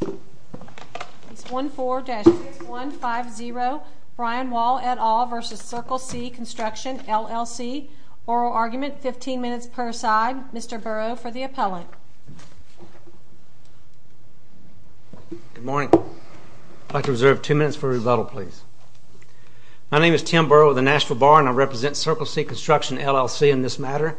Case 14-6150, Brian Wall et al. v. Circle C Construction, LLC. Oral argument, 15 minutes per side. Mr. Burrow for the appellant. Good morning. I'd like to reserve two minutes for rebuttal, please. My name is Tim Burrow with the Nashville Bar and I represent Circle C Construction, LLC in this matter.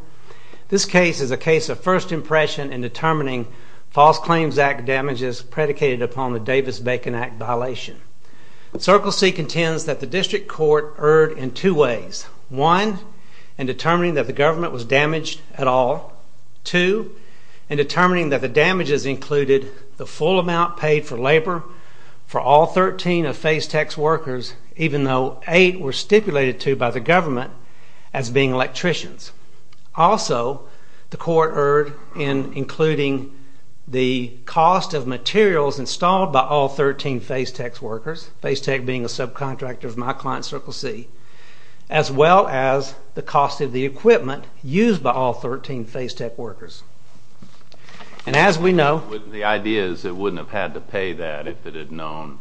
This case is a case of first impression in determining false claims act damages predicated upon the Davis-Bacon Act violation. Circle C contends that the district court erred in two ways. One, in determining that the government was damaged at all. Two, in determining that the damages included the full amount paid for labor for all 13 of Fasetech's workers, even though 8 were stipulated to by the government as being electricians. Also, the court erred in including the cost of materials installed by all 13 Fasetech's workers, Fasetech being a subcontractor of my client Circle C, as well as the cost of the equipment used by all 13 Fasetech workers. And as we know... The idea is it wouldn't have had to pay that if it had known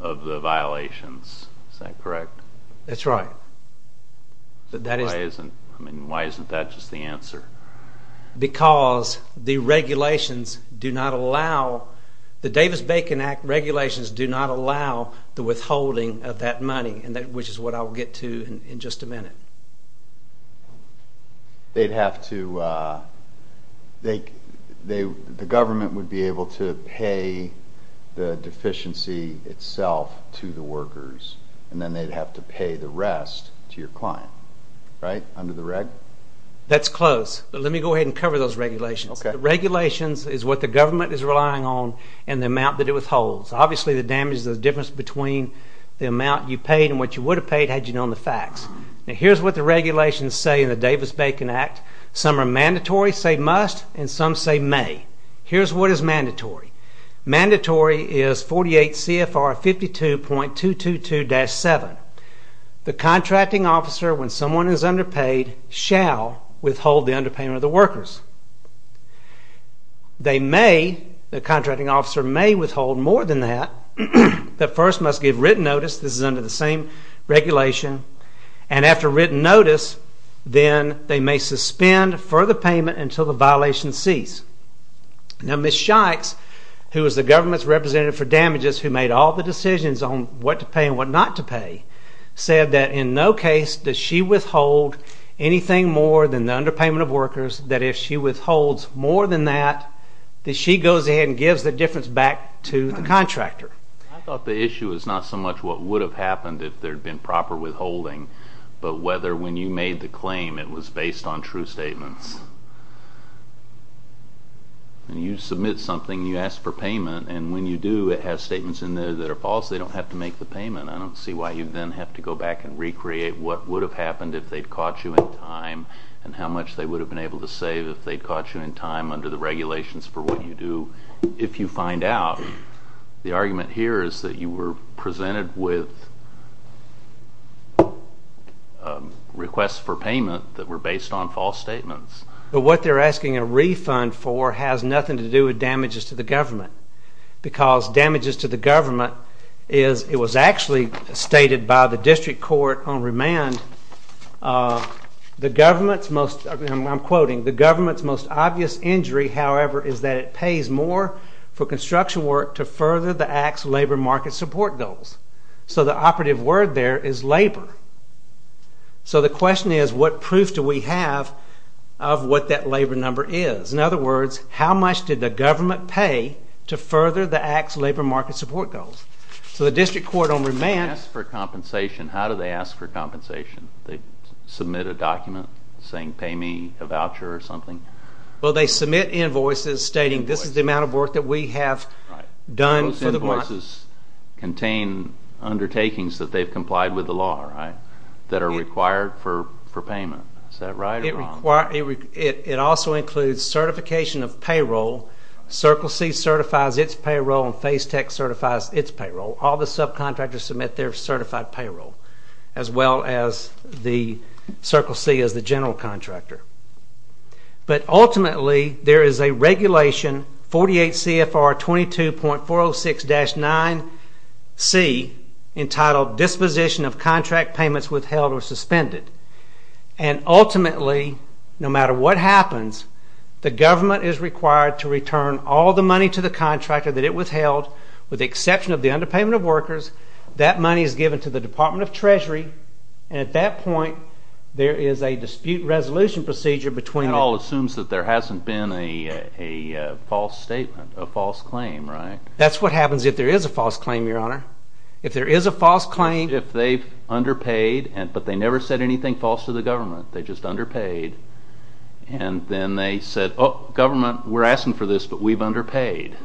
of the violations. Is that correct? That's right. Why isn't that just the answer? Because the regulations do not allow... The Davis-Bacon Act regulations do not allow the withholding of that money, which is what I'll get to in just a minute. They'd have to... The government would be able to pay the deficiency itself to the workers and then they'd have to pay the rest to your client. Right? Under the reg? That's close, but let me go ahead and cover those regulations. The regulations is what the government is relying on and the amount that it withholds. Obviously, the damage, the difference between the amount you paid and what you would have paid had you known the facts. Now, here's what the regulations say in the Davis-Bacon Act. Some are mandatory, say must, and some say may. Here's what is mandatory. Mandatory is 48 CFR 52.222-7. The contracting officer, when someone is underpaid, shall withhold the underpayment of the workers. They may, the contracting officer may withhold more than that, but first must give written notice, this is under the same regulation, and after written notice, then they may suspend further payment until the violation ceases. Now, Ms. Shikes, who is the government's representative for damages, who made all the decisions on what to pay and what not to pay, said that in no case does she withhold anything more than the underpayment of workers, that if she withholds more than that, that she goes ahead and gives the difference back to the contractor. I thought the issue is not so much what would have happened if there had been proper withholding, but whether when you made the claim it was based on true statements. When you submit something, you ask for payment, and when you do it has statements in there that are false, they don't have to make the payment. I don't see why you then have to go back and recreate what would have happened if they'd caught you in time and how much they would have been able to save if they'd caught you in time under the regulations for what you do. If you find out, the argument here is that you were presented with requests for payment that were based on false statements. But what they're asking a refund for has nothing to do with damages to the government, because damages to the government is, it was actually stated by the district court on remand, the government's most, I'm quoting, the government's most obvious injury, however, is that it pays more for construction work to further the Act's labor market support goals. So the operative word there is labor. So the question is, what proof do we have of what that labor number is? In other words, how much did the government pay to further the Act's labor market support goals? If they ask for compensation, how do they ask for compensation? Do they submit a document saying, pay me a voucher or something? Well, they submit invoices stating this is the amount of work that we have done. Those invoices contain undertakings that they've complied with the law, right, that are required for payment. Is that right or wrong? It also includes certification of payroll. Circle C certifies its payroll and FaceTech certifies its payroll. All the subcontractors submit their certified payroll, as well as the Circle C as the general contractor. But ultimately, there is a regulation, 48 CFR 22.406-9C, entitled Disposition of Contract Payments Withheld or Suspended. And ultimately, no matter what happens, the government is required to return all the money to the contractor that it withheld, with the exception of the underpayment of workers. That money is given to the Department of Treasury. And at that point, there is a dispute resolution procedure between the... That all assumes that there hasn't been a false statement, a false claim, right? That's what happens if there is a false claim, Your Honor. If there is a false claim... If they've underpaid, but they never said anything false to the government, they just underpaid, and then they said, oh, government, we're asking for this, but we've underpaid,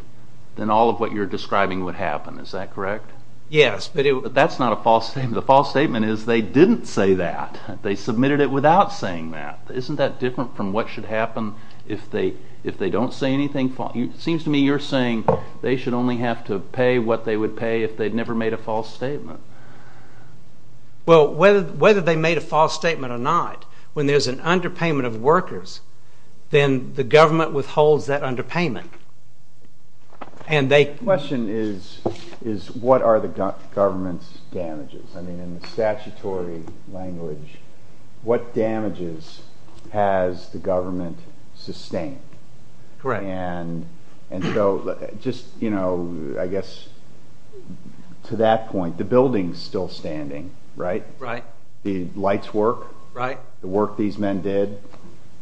then all of what you're describing would happen. Is that correct? Yes. But that's not a false statement. The false statement is they didn't say that. They submitted it without saying that. Isn't that different from what should happen if they don't say anything false? It seems to me you're saying they should only have to pay what they would pay if they'd never made a false statement. Well, whether they made a false statement or not, when there's an underpayment of workers, then the government withholds that underpayment. My question is, what are the government's damages? I mean, in the statutory language, what damages has the government sustained? Correct. And so just, you know, I guess to that point, the building's still standing, right? Right. The lights work. Right. The work these men did,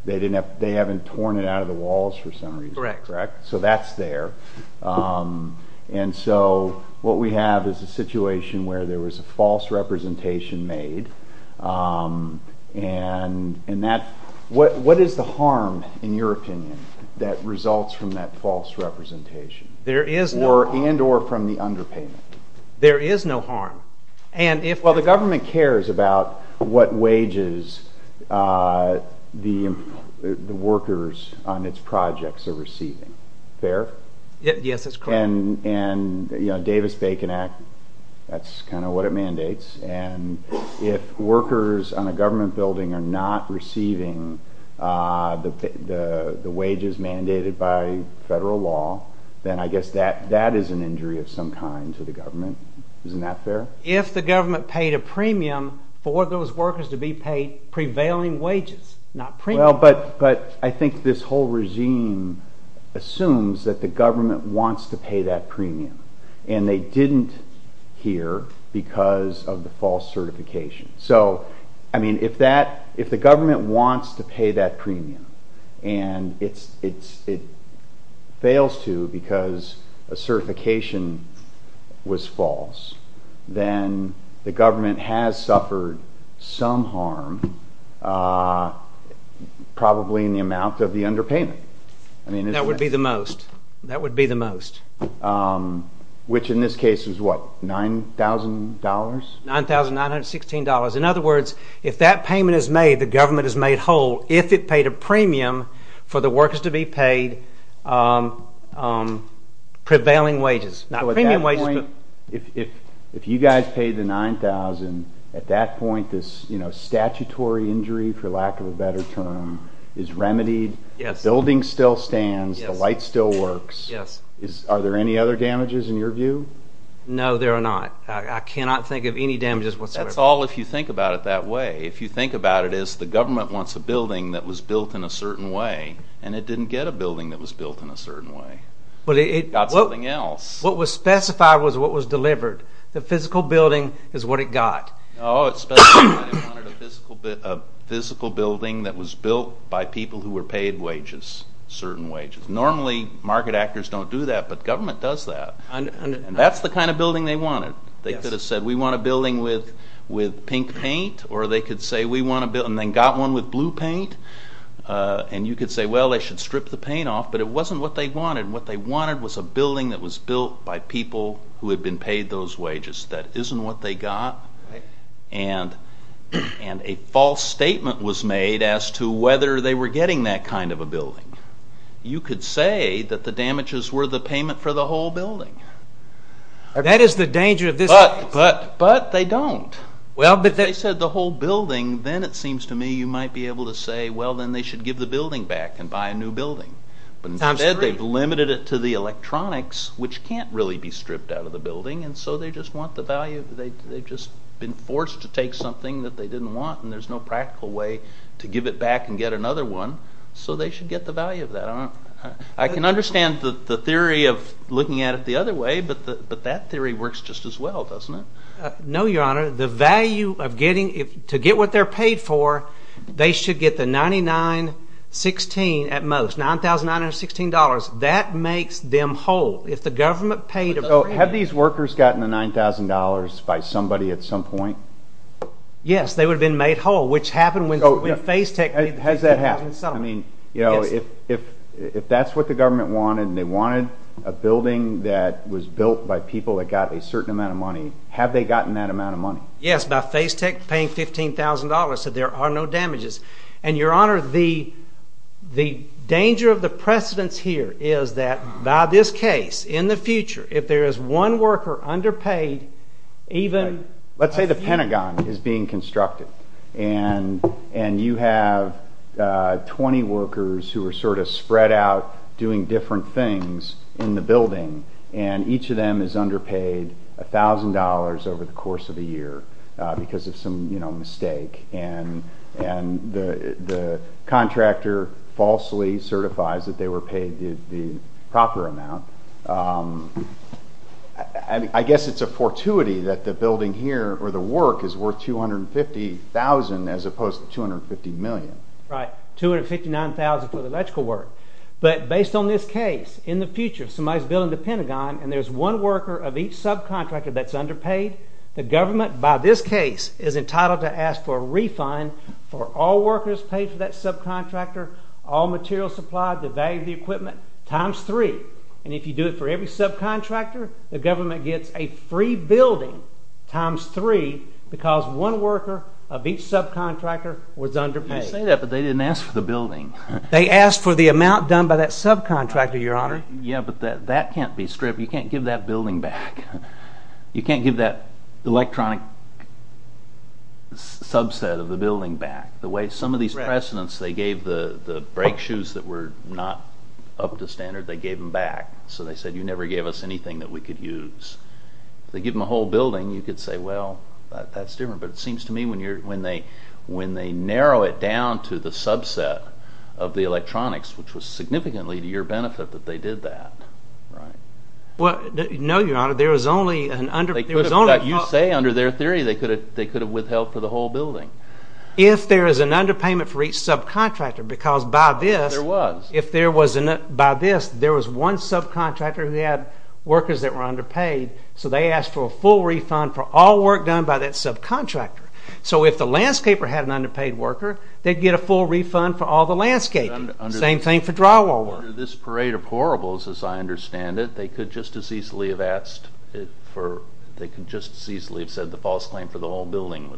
they haven't torn it out of the walls for some reason, correct? Correct. So that's there. And so what we have is a situation where there was a false representation made, and what is the harm, in your opinion, that results from that false representation? There is no harm. And or from the underpayment. There is no harm. Well, the government cares about what wages the workers on its projects are receiving. Fair? Yes, that's correct. And, you know, Davis-Bacon Act, that's kind of what it mandates, and if workers on a government building are not receiving the wages mandated by federal law, then I guess that is an injury of some kind to the government. Isn't that fair? If the government paid a premium for those workers to be paid prevailing wages, not premiums. Well, but I think this whole regime assumes that the government wants to pay that premium, and they didn't here because of the false certification. So, I mean, if the government wants to pay that premium, and it fails to because a certification was false, then the government has suffered some harm, probably in the amount of the underpayment. That would be the most. That would be the most. Which in this case is what, $9,000? $9,916. In other words, if that payment is made, the government has made whole, if it paid a premium for the workers to be paid prevailing wages. So at that point, if you guys paid the $9,000, at that point this statutory injury, for lack of a better term, is remedied, the building still stands, the light still works. Are there any other damages in your view? No, there are not. I cannot think of any damages whatsoever. That's all if you think about it that way. If you think about it as the government wants a building that was built in a certain way, and it didn't get a building that was built in a certain way. It got something else. What was specified was what was delivered. The physical building is what it got. Oh, it specified it wanted a physical building that was built by people who were paid wages, certain wages. Normally market actors don't do that, but government does that. And that's the kind of building they wanted. They could have said we want a building with pink paint, or they could say we want a building, and then got one with blue paint, and you could say, well, they should strip the paint off, but it wasn't what they wanted. What they wanted was a building that was built by people who had been paid those wages. That isn't what they got. And a false statement was made as to whether they were getting that kind of a building. You could say that the damages were the payment for the whole building. That is the danger of this case. But they don't. If they said the whole building, then it seems to me you might be able to say, well, then they should give the building back and buy a new building. But instead they've limited it to the electronics, which can't really be stripped out of the building, and so they just want the value. They've just been forced to take something that they didn't want, and there's no practical way to give it back and get another one. So they should get the value of that. I can understand the theory of looking at it the other way, but that theory works just as well, doesn't it? No, Your Honor. To get what they're paid for, they should get the 99.16 at most, $9,916. That makes them whole. Have these workers gotten the $9,000 by somebody at some point? Yes, they would have been made whole, which happened when Facetech paid the $9,000. Has that happened? If that's what the government wanted, and they wanted a building that was built by people that got a certain amount of money, have they gotten that amount of money? Yes, by Facetech paying $15,000, so there are no damages. And, Your Honor, the danger of the precedence here is that by this case, in the future, if there is one worker underpaid, even... Let's say the Pentagon is being constructed, and you have 20 workers who are sort of spread out doing different things in the building, and each of them is underpaid $1,000 over the course of the year because of some mistake, and the contractor falsely certifies that they were paid the proper amount, I guess it's a fortuity that the building here, or the work, is worth $250,000 as opposed to $250 million. Right, $259,000 for the electrical work. But based on this case, in the future, if somebody's building the Pentagon, and there's one worker of each subcontractor that's underpaid, the government, by this case, is entitled to ask for a refund for all workers paid for that subcontractor, all materials supplied, the value of the equipment, times three. And if you do it for every subcontractor, the government gets a free building times three because one worker of each subcontractor was underpaid. You say that, but they didn't ask for the building. They asked for the amount done by that subcontractor, Your Honor. Yeah, but that can't be stripped. You can't give that building back. You can't give that electronic subset of the building back. Some of these precedents, they gave the brake shoes that were not up to standard, they gave them back. So they said, you never gave us anything that we could use. If they give them a whole building, you could say, well, that's different. But it seems to me when they narrow it down to the subset of the electronics, which was significantly to your benefit that they did that, right? No, Your Honor, there was only... You say under their theory they could have withheld for the whole building. If there is an underpayment for each subcontractor, because by this, there was one subcontractor who had workers that were underpaid, so they asked for a full refund for all work done by that subcontractor. So if the landscaper had an underpaid worker, they'd get a full refund for all the landscaping. Same thing for drywall work. Under this parade of horribles, as I understand it, they could just as easily have asked for... They could just as easily have said the false claim for the whole building.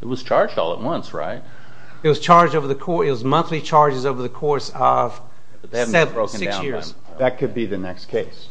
It was charged all at once, right? It was charged over the course... It was monthly charges over the course of seven, six years. That could be the next case.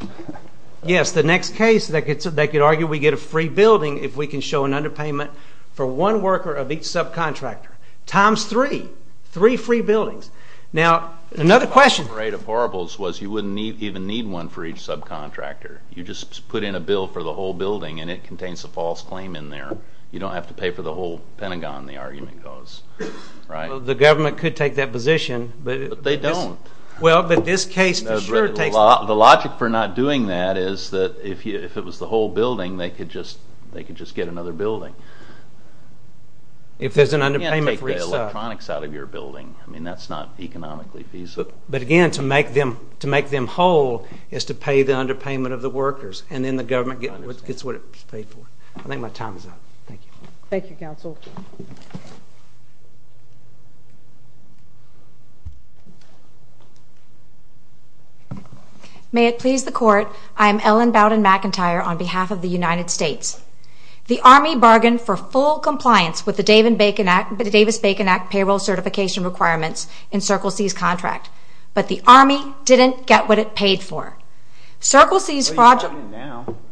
Yes, the next case, they could argue we get a free building if we can show an underpayment for one worker of each subcontractor times three, three free buildings. Now, another question... Under this parade of horribles was you wouldn't even need one for each subcontractor. You just put in a bill for the whole building and it contains a false claim in there. You don't have to pay for the whole Pentagon, the argument goes. The government could take that position. But they don't. Well, but this case for sure takes... The logic for not doing that is that if it was the whole building, they could just get another building. If there's an underpayment for each sub. You can't take the electronics out of your building. I mean, that's not economically feasible. But again, to make them whole is to pay the underpayment of the workers and then the government gets what it's paid for. I think my time is up. Thank you. Thank you, Counsel. May it please the Court, I'm Ellen Bowden-McIntyre on behalf of the United States. The Army bargained for full compliance with the Davis-Bacon Act and payroll certification requirements in Circle C's contract. But the Army didn't get what it paid for. Circle C's fraudulent...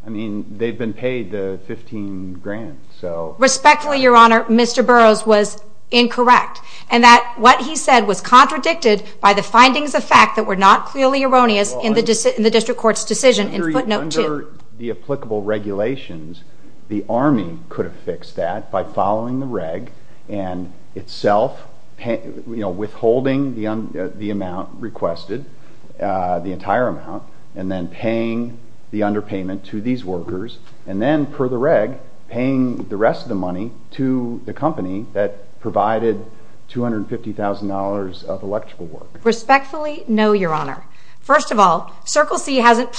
I mean, they've been paid the 15 grand, so... Respectfully, Your Honor, Mr. Burroughs was incorrect in that what he said was contradicted by the findings of fact that were not clearly erroneous in the District Court's decision in footnote 2. Under the applicable regulations, the Army could have fixed that by following the reg and itself withholding the amount requested, the entire amount, and then paying the underpayment to these workers and then, per the reg, paying the rest of the money to the company that provided $250,000 of electrical work. Respectfully, no, Your Honor. First of all, Circle C hasn't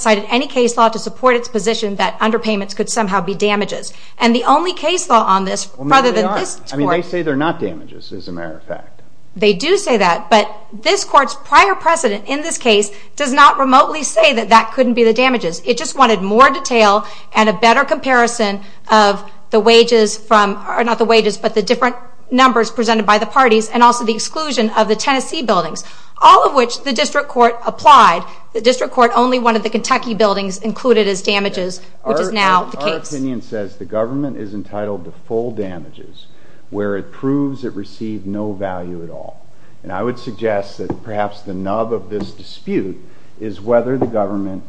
cited any case law to support its position that underpayments could somehow be damages. And the only case law on this... Well, no, they are. I mean, they say they're not damages, as a matter of fact. They do say that, but this Court's prior precedent in this case does not remotely say that that couldn't be the damages. It just wanted more detail and a better comparison of the wages from... not the wages, but the different numbers presented by the parties and also the exclusion of the Tennessee buildings, all of which the District Court applied. The District Court only wanted the Kentucky buildings included as damages, which is now the case. Our opinion says the government is entitled to full damages where it proves it received no value at all. And I would suggest that perhaps the nub of this dispute is whether the government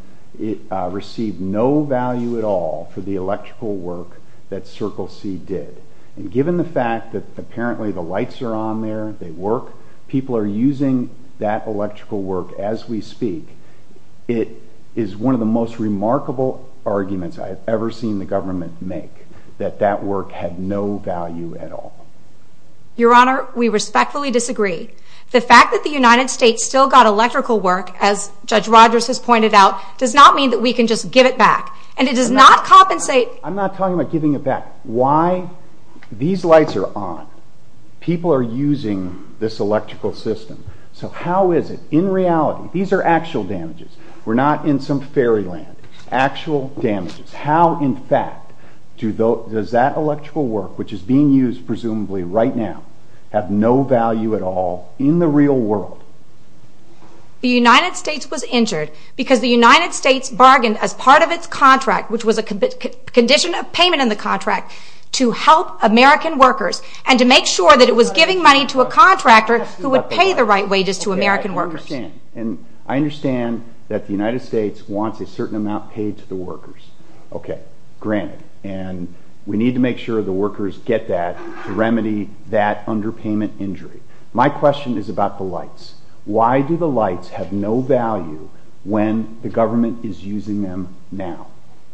received no value at all for the electrical work that Circle C did. And given the fact that apparently the lights are on there, they work, people are using that electrical work as we speak, it is one of the most remarkable arguments I have ever seen the government make, that that work had no value at all. Your Honor, we respectfully disagree. The fact that the United States still got electrical work, as Judge Rogers has pointed out, does not mean that we can just give it back. And it does not compensate... I'm not talking about giving it back. Why? These lights are on. People are using this electrical system. So how is it, in reality, these are actual damages. We're not in some fairyland. Actual damages. How, in fact, does that electrical work, which is being used presumably right now, have no value at all in the real world? The United States was injured because the United States bargained as part of its contract, which was a condition of payment in the contract, to help American workers and to make sure that it was giving money to a contractor who would pay the right wages to American workers. Okay, I understand. And I understand that the United States wants a certain amount paid to the workers. Okay. Granted. And we need to make sure the workers get that to remedy that underpayment injury. My question is about the lights. Why do the lights have no value when the government is using them now?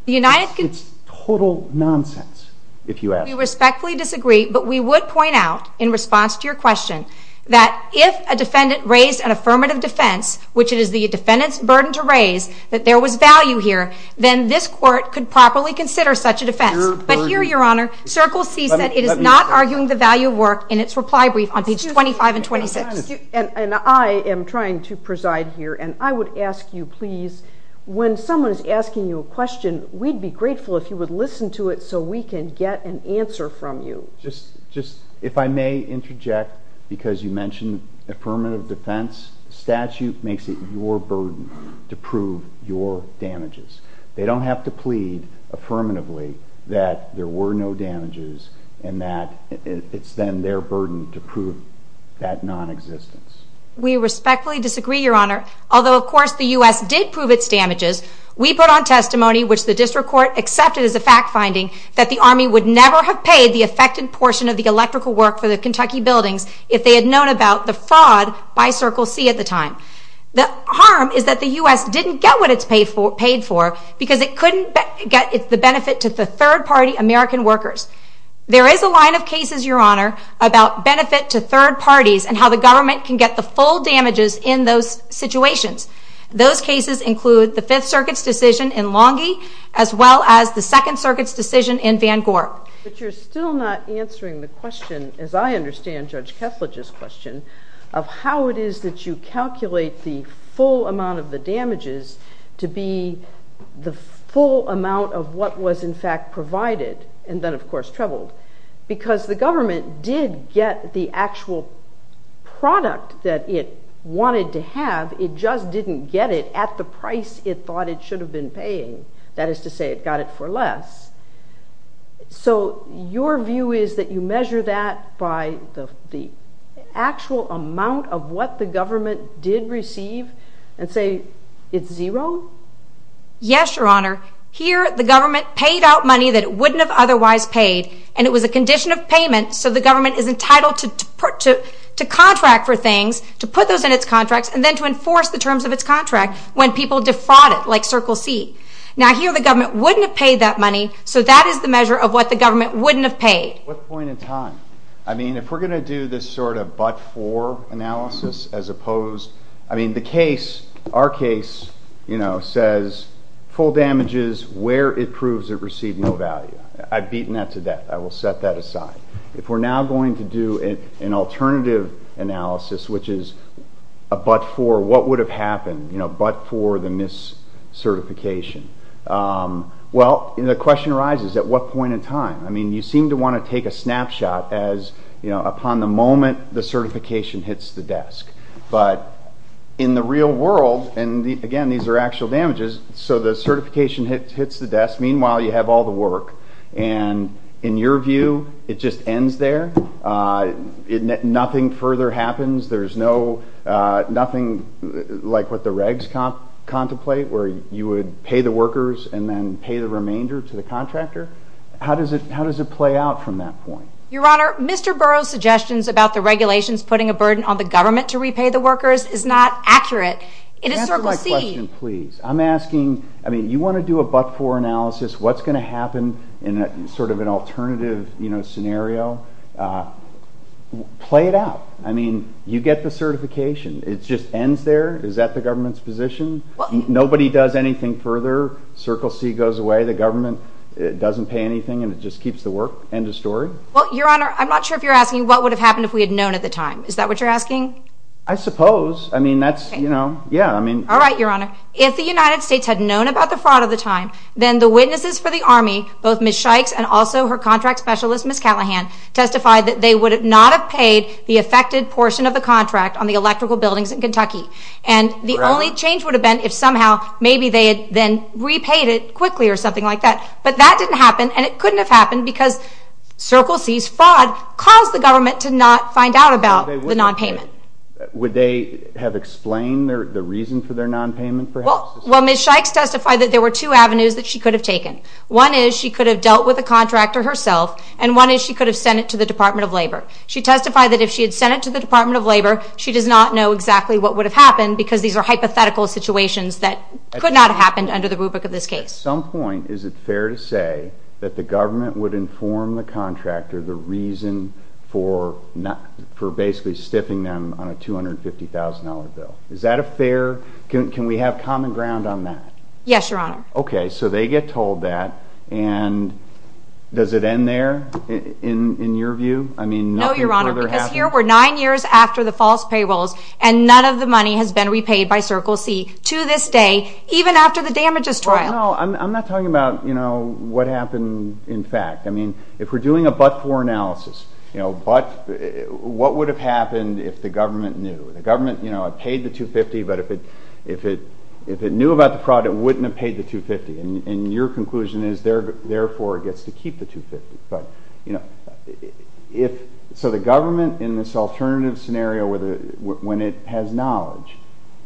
It's total nonsense, if you ask me. We respectfully disagree, but we would point out, in response to your question, that if a defendant raised an affirmative defense, which it is the defendant's burden to raise, that there was value here, then this Court could properly consider such a defense. But here, Your Honor, Circle C said it is not arguing the value of work in its reply brief on pages 25 and 26. And I am trying to preside here, and I would ask you, please, when someone is asking you a question, we'd be grateful if you would listen to it so we can get an answer from you. Just, if I may interject, because you mentioned affirmative defense, statute makes it your burden to prove your damages. They don't have to plead affirmatively that there were no damages and that it's then their burden to prove that nonexistence. We respectfully disagree, Your Honor. Although, of course, the U.S. did prove its damages, we put on testimony, which the District Court accepted as a fact finding, that the Army would never have paid the affected portion of the electrical work for the Kentucky buildings if they had known about the fraud by Circle C at the time. The harm is that the U.S. didn't get what it paid for because it couldn't get the benefit to the third-party American workers. There is a line of cases, Your Honor, about benefit to third parties and how the government can get the full damages in those situations. Those cases include the Fifth Circuit's decision in Longie as well as the Second Circuit's decision in Van Gorp. But you're still not answering the question, as I understand Judge Kessler's question, of how it is that you calculate the full amount of the damages to be the full amount of what was in fact provided and then, of course, trebled. Because the government did get the actual product that it wanted to have, it just didn't get it at the price it thought it should have been paying. That is to say, it got it for less. So your view is that you measure that by the actual amount of what the government did receive and say it's zero? Yes, Your Honor. Here, the government paid out money that it wouldn't have otherwise paid, and it was a condition of payment, so the government is entitled to contract for things, to put those in its contracts, and then to enforce the terms of its contract when people defraud it, like Circle C. Now here, the government wouldn't have paid that money, so that is the measure of what the government wouldn't have paid. At what point in time? I mean, if we're going to do this sort of but-for analysis as opposed... I mean, the case, our case, you know, says full damages where it proves it received no value. I've beaten that to death. I will set that aside. If we're now going to do an alternative analysis, which is a but-for, what would have happened, you know, but-for the mis-certification? Well, the question arises, at what point in time? I mean, you seem to want to take a snapshot as, you know, upon the moment the certification hits the desk, but in the real world, and again, these are actual damages, so the certification hits the desk. Meanwhile, you have all the work, and in your view, it just ends there? Nothing further happens? There's nothing like what the regs contemplate, where you would pay the workers and then pay the remainder to the contractor? How does it play out from that point? Your Honor, Mr. Burroughs' suggestions about the regulations putting a burden on the government to repay the workers is not accurate. Answer my question, please. I'm asking, I mean, you want to do a but-for analysis, what's going to happen in sort of an alternative scenario? Play it out. I mean, you get the certification. It just ends there? Is that the government's position? Nobody does anything further. Circle C goes away. The government doesn't pay anything, and it just keeps the work. End of story. Well, Your Honor, I'm not sure if you're asking what would have happened if we had known at the time. Is that what you're asking? I suppose. I mean, that's, you know, yeah. All right, Your Honor. If the United States had known about the fraud of the time, then the witnesses for the Army, both Ms. Shikes and also her contract specialist, Ms. Callahan, testified that they would not have paid the affected portion of the contract on the electrical buildings in Kentucky. And the only change would have been if somehow maybe they had then repaid it quickly or something like that. But that didn't happen, and it couldn't have happened because Circle C's fraud caused the government to not find out about the nonpayment. Would they have explained the reason for their nonpayment, perhaps? Well, Ms. Shikes testified that there were two avenues that she could have taken. One is she could have dealt with the contractor herself, and one is she could have sent it to the Department of Labor. She testified that if she had sent it to the Department of Labor, she does not know exactly what would have happened because these are hypothetical situations that could not have happened under the rubric of this case. At some point, is it fair to say that the government would inform the contractor the reason for basically stiffing them on a $250,000 bill? Is that a fair... can we have common ground on that? Yes, Your Honor. Okay, so they get told that, and does it end there, in your view? No, Your Honor, because here we're nine years after the false payrolls, and none of the money has been repaid by Circle C to this day, even after the damages trial. Well, no, I'm not talking about what happened in fact. If we're doing a but-for analysis, what would have happened if the government knew? The government paid the $250,000, but if it knew about the fraud, it wouldn't have paid the $250,000. And your conclusion is, therefore, it gets to keep the $250,000. So the government, in this alternative scenario, when it has knowledge,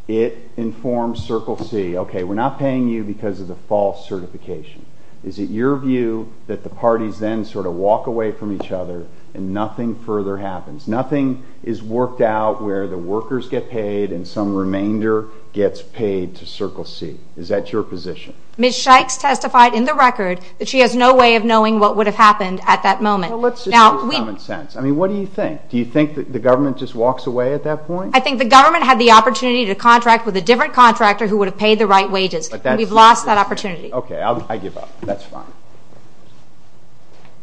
it informs Circle C, okay, we're not paying you because of the false certification. Is it your view that the parties then sort of walk away from each other and nothing further happens? Nothing is worked out where the workers get paid and some remainder gets paid to Circle C. Is that your position? Ms. Shikes testified in the record that she has no way of knowing what would have happened at that moment. Well, let's just use common sense. I mean, what do you think? Do you think that the government just walks away at that point? I think the government had the opportunity to contract with a different contractor who would have paid the right wages. We've lost that opportunity. Okay, I give up. That's fine.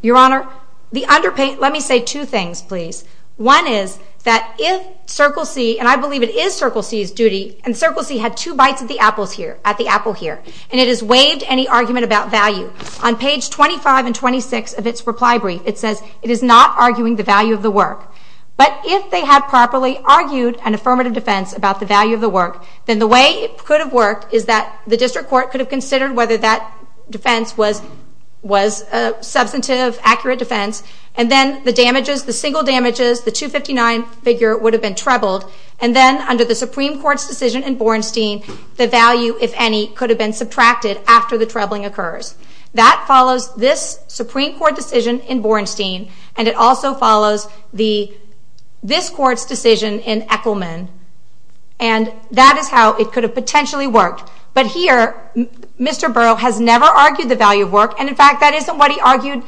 Your Honor, let me say two things, please. One is that if Circle C, and I believe it is Circle C's duty, and Circle C had two bites at the apple here, and it has waived any argument about value. On page 25 and 26 of its reply brief, it says, it is not arguing the value of the work. But if they had properly argued an affirmative defense about the value of the work, then the way it could have worked is that the district court could have considered whether that defense was a substantive, accurate defense, and then the damages, the single damages, the 259 figure would have been trebled, and then under the Supreme Court's decision in Bornstein, the value, if any, could have been subtracted after the trebling occurs. That follows this Supreme Court decision in Bornstein, and it also follows this Court's decision in Echelman, and that is how it could have potentially worked. But here, Mr. Burrow has never argued the value of work, and in fact, that isn't what he argued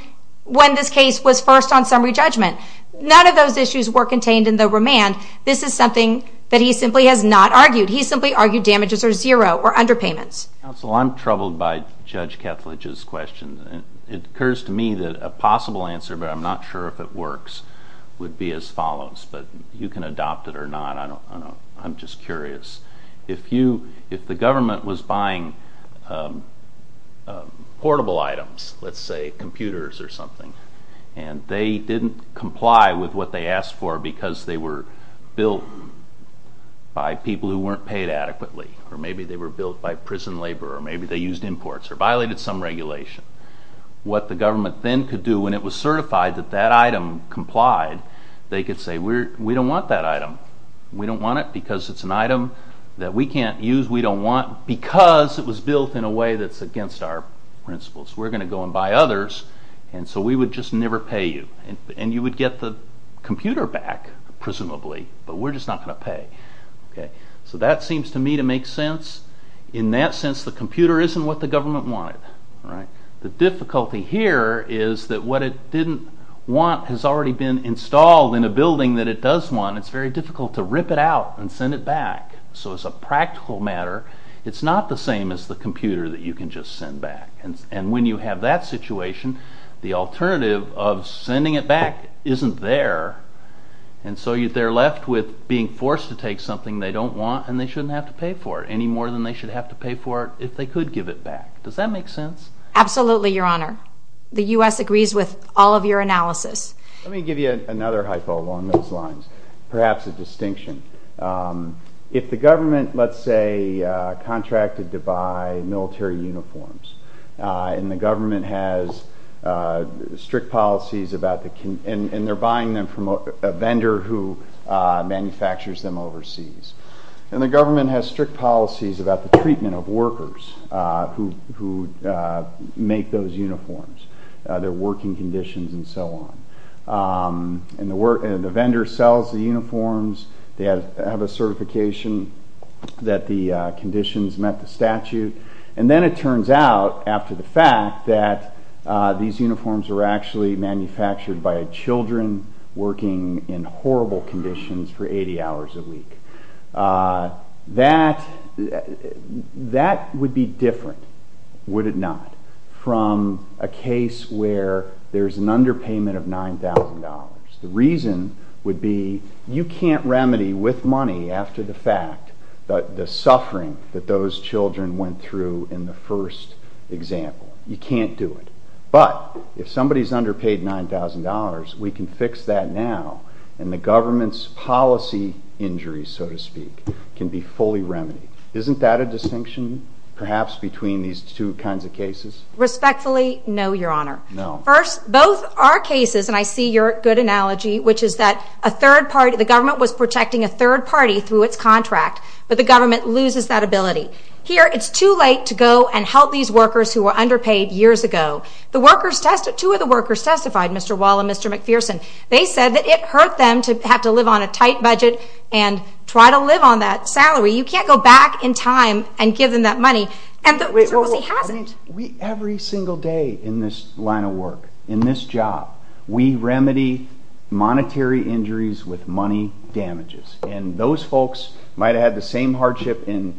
when this case was first on summary judgment. None of those issues were contained in the remand. This is something that he simply has not argued. He simply argued damages are zero or underpayments. Counsel, I'm troubled by Judge Kethledge's question. It occurs to me that a possible answer, but I'm not sure if it works, would be as follows, but you can adopt it or not. I'm just curious. If the government was buying portable items, let's say computers or something, and they didn't comply with what they asked for because they were built by people who weren't paid adequately, or maybe they were built by prison labor, or maybe they used imports or violated some regulation, what the government then could do when it was certified that that item complied, they could say, we don't want that item. We don't want it because it's an item that we can't use. We don't want it because it was built in a way that's against our principles. We're going to go and buy others, and so we would just never pay you. And you would get the computer back, presumably, but we're just not going to pay. So that seems to me to make sense. In that sense, the computer isn't what the government wanted. The difficulty here is that what it didn't want has already been installed in a building that it does want. It's very difficult to rip it out and send it back. So as a practical matter, it's not the same as the computer that you can just send back. And when you have that situation, the alternative of sending it back isn't there, and so they're left with being forced to take something they don't want, and they shouldn't have to pay for it any more than they should have to pay for it if they could give it back. Does that make sense? Absolutely, Your Honor. The U.S. agrees with all of your analysis. Let me give you another hypo along those lines. Perhaps a distinction. If the government, let's say, contracted to buy military uniforms, and the government has strict policies about the... and they're buying them from a vendor who manufactures them overseas, and the government has strict policies about the treatment of workers who make those uniforms, their working conditions and so on, and the vendor sells the uniforms, they have a certification that the conditions met the statute, and then it turns out, after the fact, that these uniforms were actually manufactured by children working in horrible conditions for 80 hours a week. That would be different, would it not, from a case where there's an underpayment of $9,000? The reason would be you can't remedy with money after the fact the suffering that those children went through in the first example. You can't do it. But if somebody's underpaid $9,000, we can fix that now, and the government's policy injuries, so to speak, can be fully remedied. Isn't that a distinction, perhaps, between these two kinds of cases? Respectfully, no, Your Honor. First, both our cases, and I see your good analogy, which is that a third party, the government was protecting a third party through its contract, but the government loses that ability. Here, it's too late to go and help these workers who were underpaid years ago. Two of the workers testified, Mr. Wall and Mr. McPherson. They said that it hurt them to have to live on a tight budget and try to live on that salary. You can't go back in time and give them that money. Every single day in this line of work, in this job, we remedy monetary injuries with money damages, and those folks might have had the same hardship in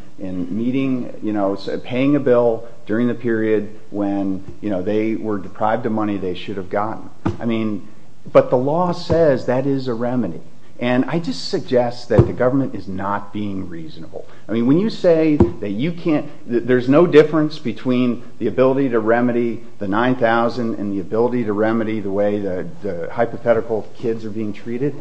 paying a bill during the period when they were deprived of money they should have gotten. But the law says that is a remedy, and I just suggest that the government is not being reasonable. When you say that there's no difference between the ability to remedy the $9,000 and the ability to remedy the way the hypothetical kids are being treated,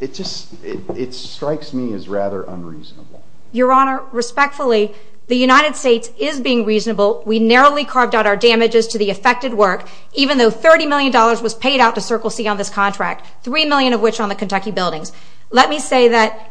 it strikes me as rather unreasonable. Your Honor, respectfully, the United States is being reasonable. We narrowly carved out our damages to the affected work, even though $30 million was paid out to Circle C on this contract, $3 million of which on the Kentucky buildings. Let me say that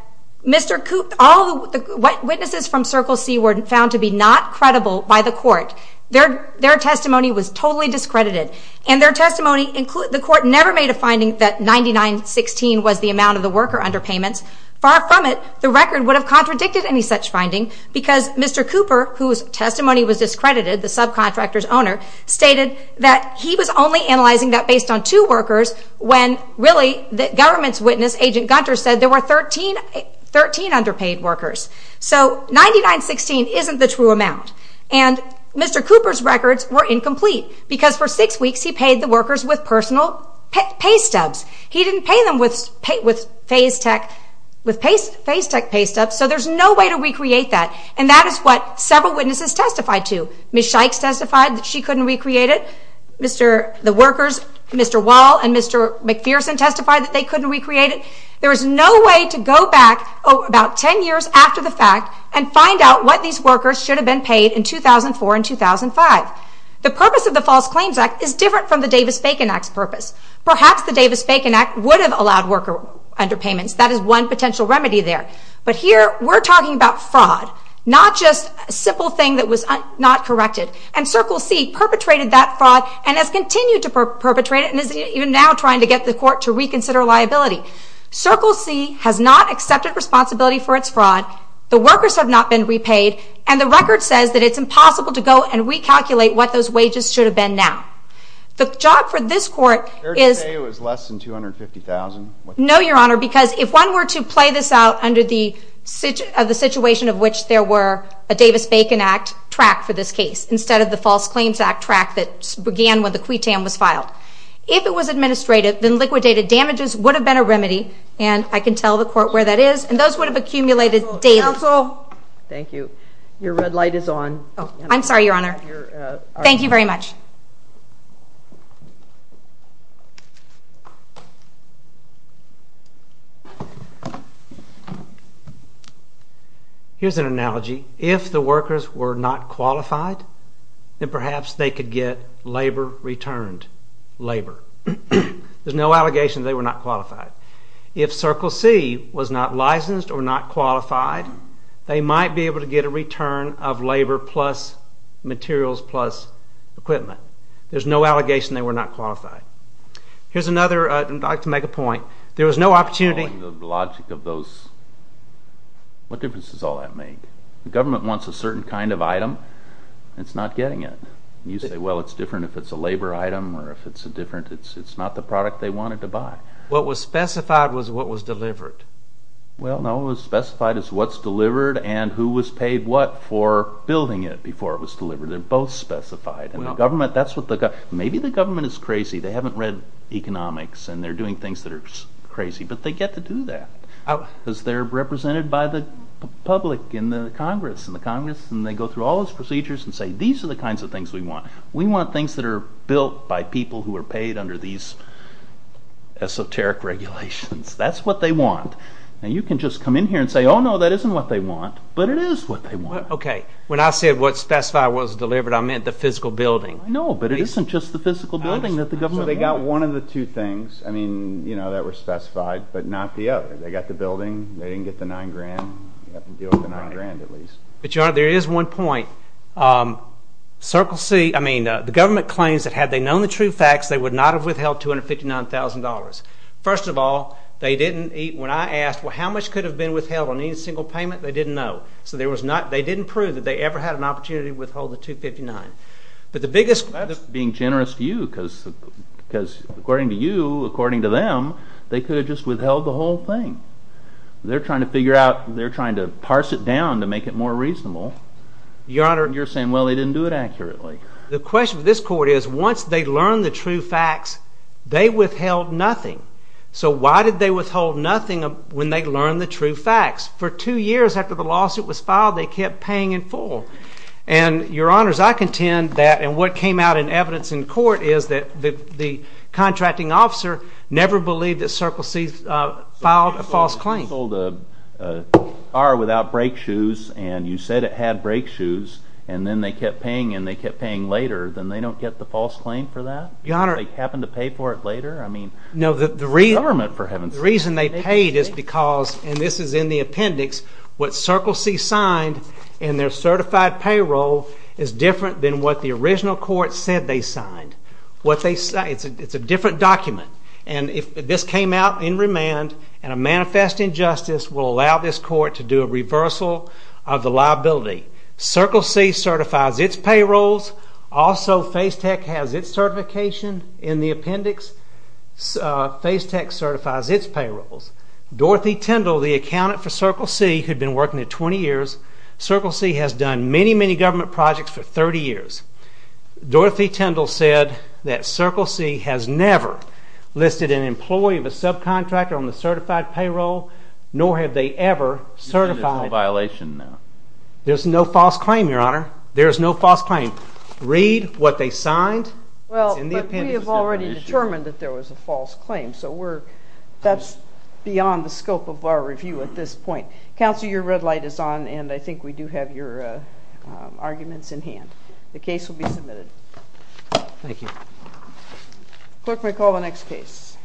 all the witnesses from Circle C were found to be not credible by the court. Their testimony was totally discredited. The court never made a finding that $99.16 was the amount of the worker under payments. Far from it, the record would have contradicted any such finding because Mr. Cooper, whose testimony was discredited, the subcontractor's owner, stated that he was only analyzing that based on two workers when really the government's witness, Agent Gunter, said there were 13 underpaid workers. So $99.16 isn't the true amount. And Mr. Cooper's records were incomplete because for six weeks he paid the workers with personal pay stubs. He didn't pay them with Fasetech pay stubs, so there's no way to recreate that. And that is what several witnesses testified to. Ms. Shikes testified that she couldn't recreate it. The workers, Mr. Wall and Mr. McPherson testified that they couldn't recreate it. There is no way to go back about 10 years after the fact and find out what these workers should have been paid in 2004 and 2005. The purpose of the False Claims Act is different from the Davis-Facon Act's purpose. Perhaps the Davis-Facon Act would have allowed worker underpayments. That is one potential remedy there. But here we're talking about fraud, not just a simple thing that was not corrected. And Circle C perpetrated that fraud and has continued to perpetrate it and is even now trying to get the court to reconsider liability. Circle C has not accepted responsibility for its fraud. The workers have not been repaid. And the record says that it's impossible to go and recalculate what those wages should have been now. The job for this court is... Fair to say it was less than $250,000? No, Your Honor, because if one were to play this out under the situation of which there were a Davis-Facon Act track for this case instead of the False Claims Act track that began when the QUITAM was filed. If it was administrative, then liquidated damages would have been a remedy. And I can tell the court where that is. And those would have accumulated daily. Counsel, thank you. Your red light is on. I'm sorry, Your Honor. Thank you very much. Here's an analogy. If the workers were not qualified, then perhaps they could get labor returned. Labor. There's no allegation they were not qualified. If Circle C was not licensed or not qualified, they might be able to get a return of labor plus materials plus equipment. There's no allegation they were not qualified. Here's another... I'd like to make a point. There was no opportunity... The logic of those... What difference does all that make? The government wants a certain kind of item. It's not getting it. You say, well, it's different if it's a labor item or if it's a different... It's not the product they wanted to buy. What was specified was what was delivered. Well, no. What was specified is what's delivered and who was paid what for building it before it was delivered. They're both specified. And the government... Maybe the government is crazy. They haven't read economics and they're doing things that are crazy. But they get to do that because they're represented by the public in the Congress. And they go through all those procedures and say, these are the kinds of things we want. We want things that are built by people who are paid under these esoteric regulations. That's what they want. And you can just come in here and say, oh, no, that isn't what they want. But it is what they want. When I said what was specified was delivered, I meant the physical building. No, but it isn't just the physical building that the government wants. So they got one of the two things that were specified, but not the other. They got the building. They didn't get the $9,000. You have to deal with the $9,000 at least. But, Your Honor, there is one point. Circle C, I mean, the government claims that had they known the true facts, they would not have withheld $259,000. First of all, when I asked, how much could have been withheld on any single payment, they didn't know. So they didn't prove that they ever had an opportunity to withhold the $259,000. But the biggest... That's being generous to you because according to you, according to them, they could have just withheld the whole thing. They're trying to figure out... They're trying to parse it down to make it more reasonable. Your Honor... You're saying, well, they didn't do it accurately. The question with this court is once they learned the true facts, they withheld nothing. So why did they withhold nothing when they learned the true facts? For two years after the lawsuit was filed, they kept paying in full. And, Your Honors, I contend that... The contracting officer never believed that Circle C filed a false claim. You sold a car without brake shoes and you said it had brake shoes and then they kept paying and they kept paying later. Then they don't get the false claim for that? Your Honor... They happen to pay for it later? No, the reason... Government, for heaven's sake. The reason they paid is because, and this is in the appendix, what Circle C signed in their certified payroll is different than what the original court said they signed. It's a different document. And if this came out in remand and a manifest injustice will allow this court to do a reversal of the liability. Circle C certifies its payrolls. Also, FaceTec has its certification in the appendix. FaceTec certifies its payrolls. Dorothy Tindall, the accountant for Circle C, who'd been working there 20 years, Circle C has done many, many government projects for 30 years. Dorothy Tindall said that Circle C has never listed an employee of a subcontractor on the certified payroll nor have they ever certified... There's no violation there. There's no false claim, Your Honor. There's no false claim. Read what they signed. Well, but we have already determined that there was a false claim, so we're... that's beyond the scope of our review at this point. Counselor, your red light is on and I think we do have your arguments in hand. The case will be submitted. Thank you. Clerk may call the next case.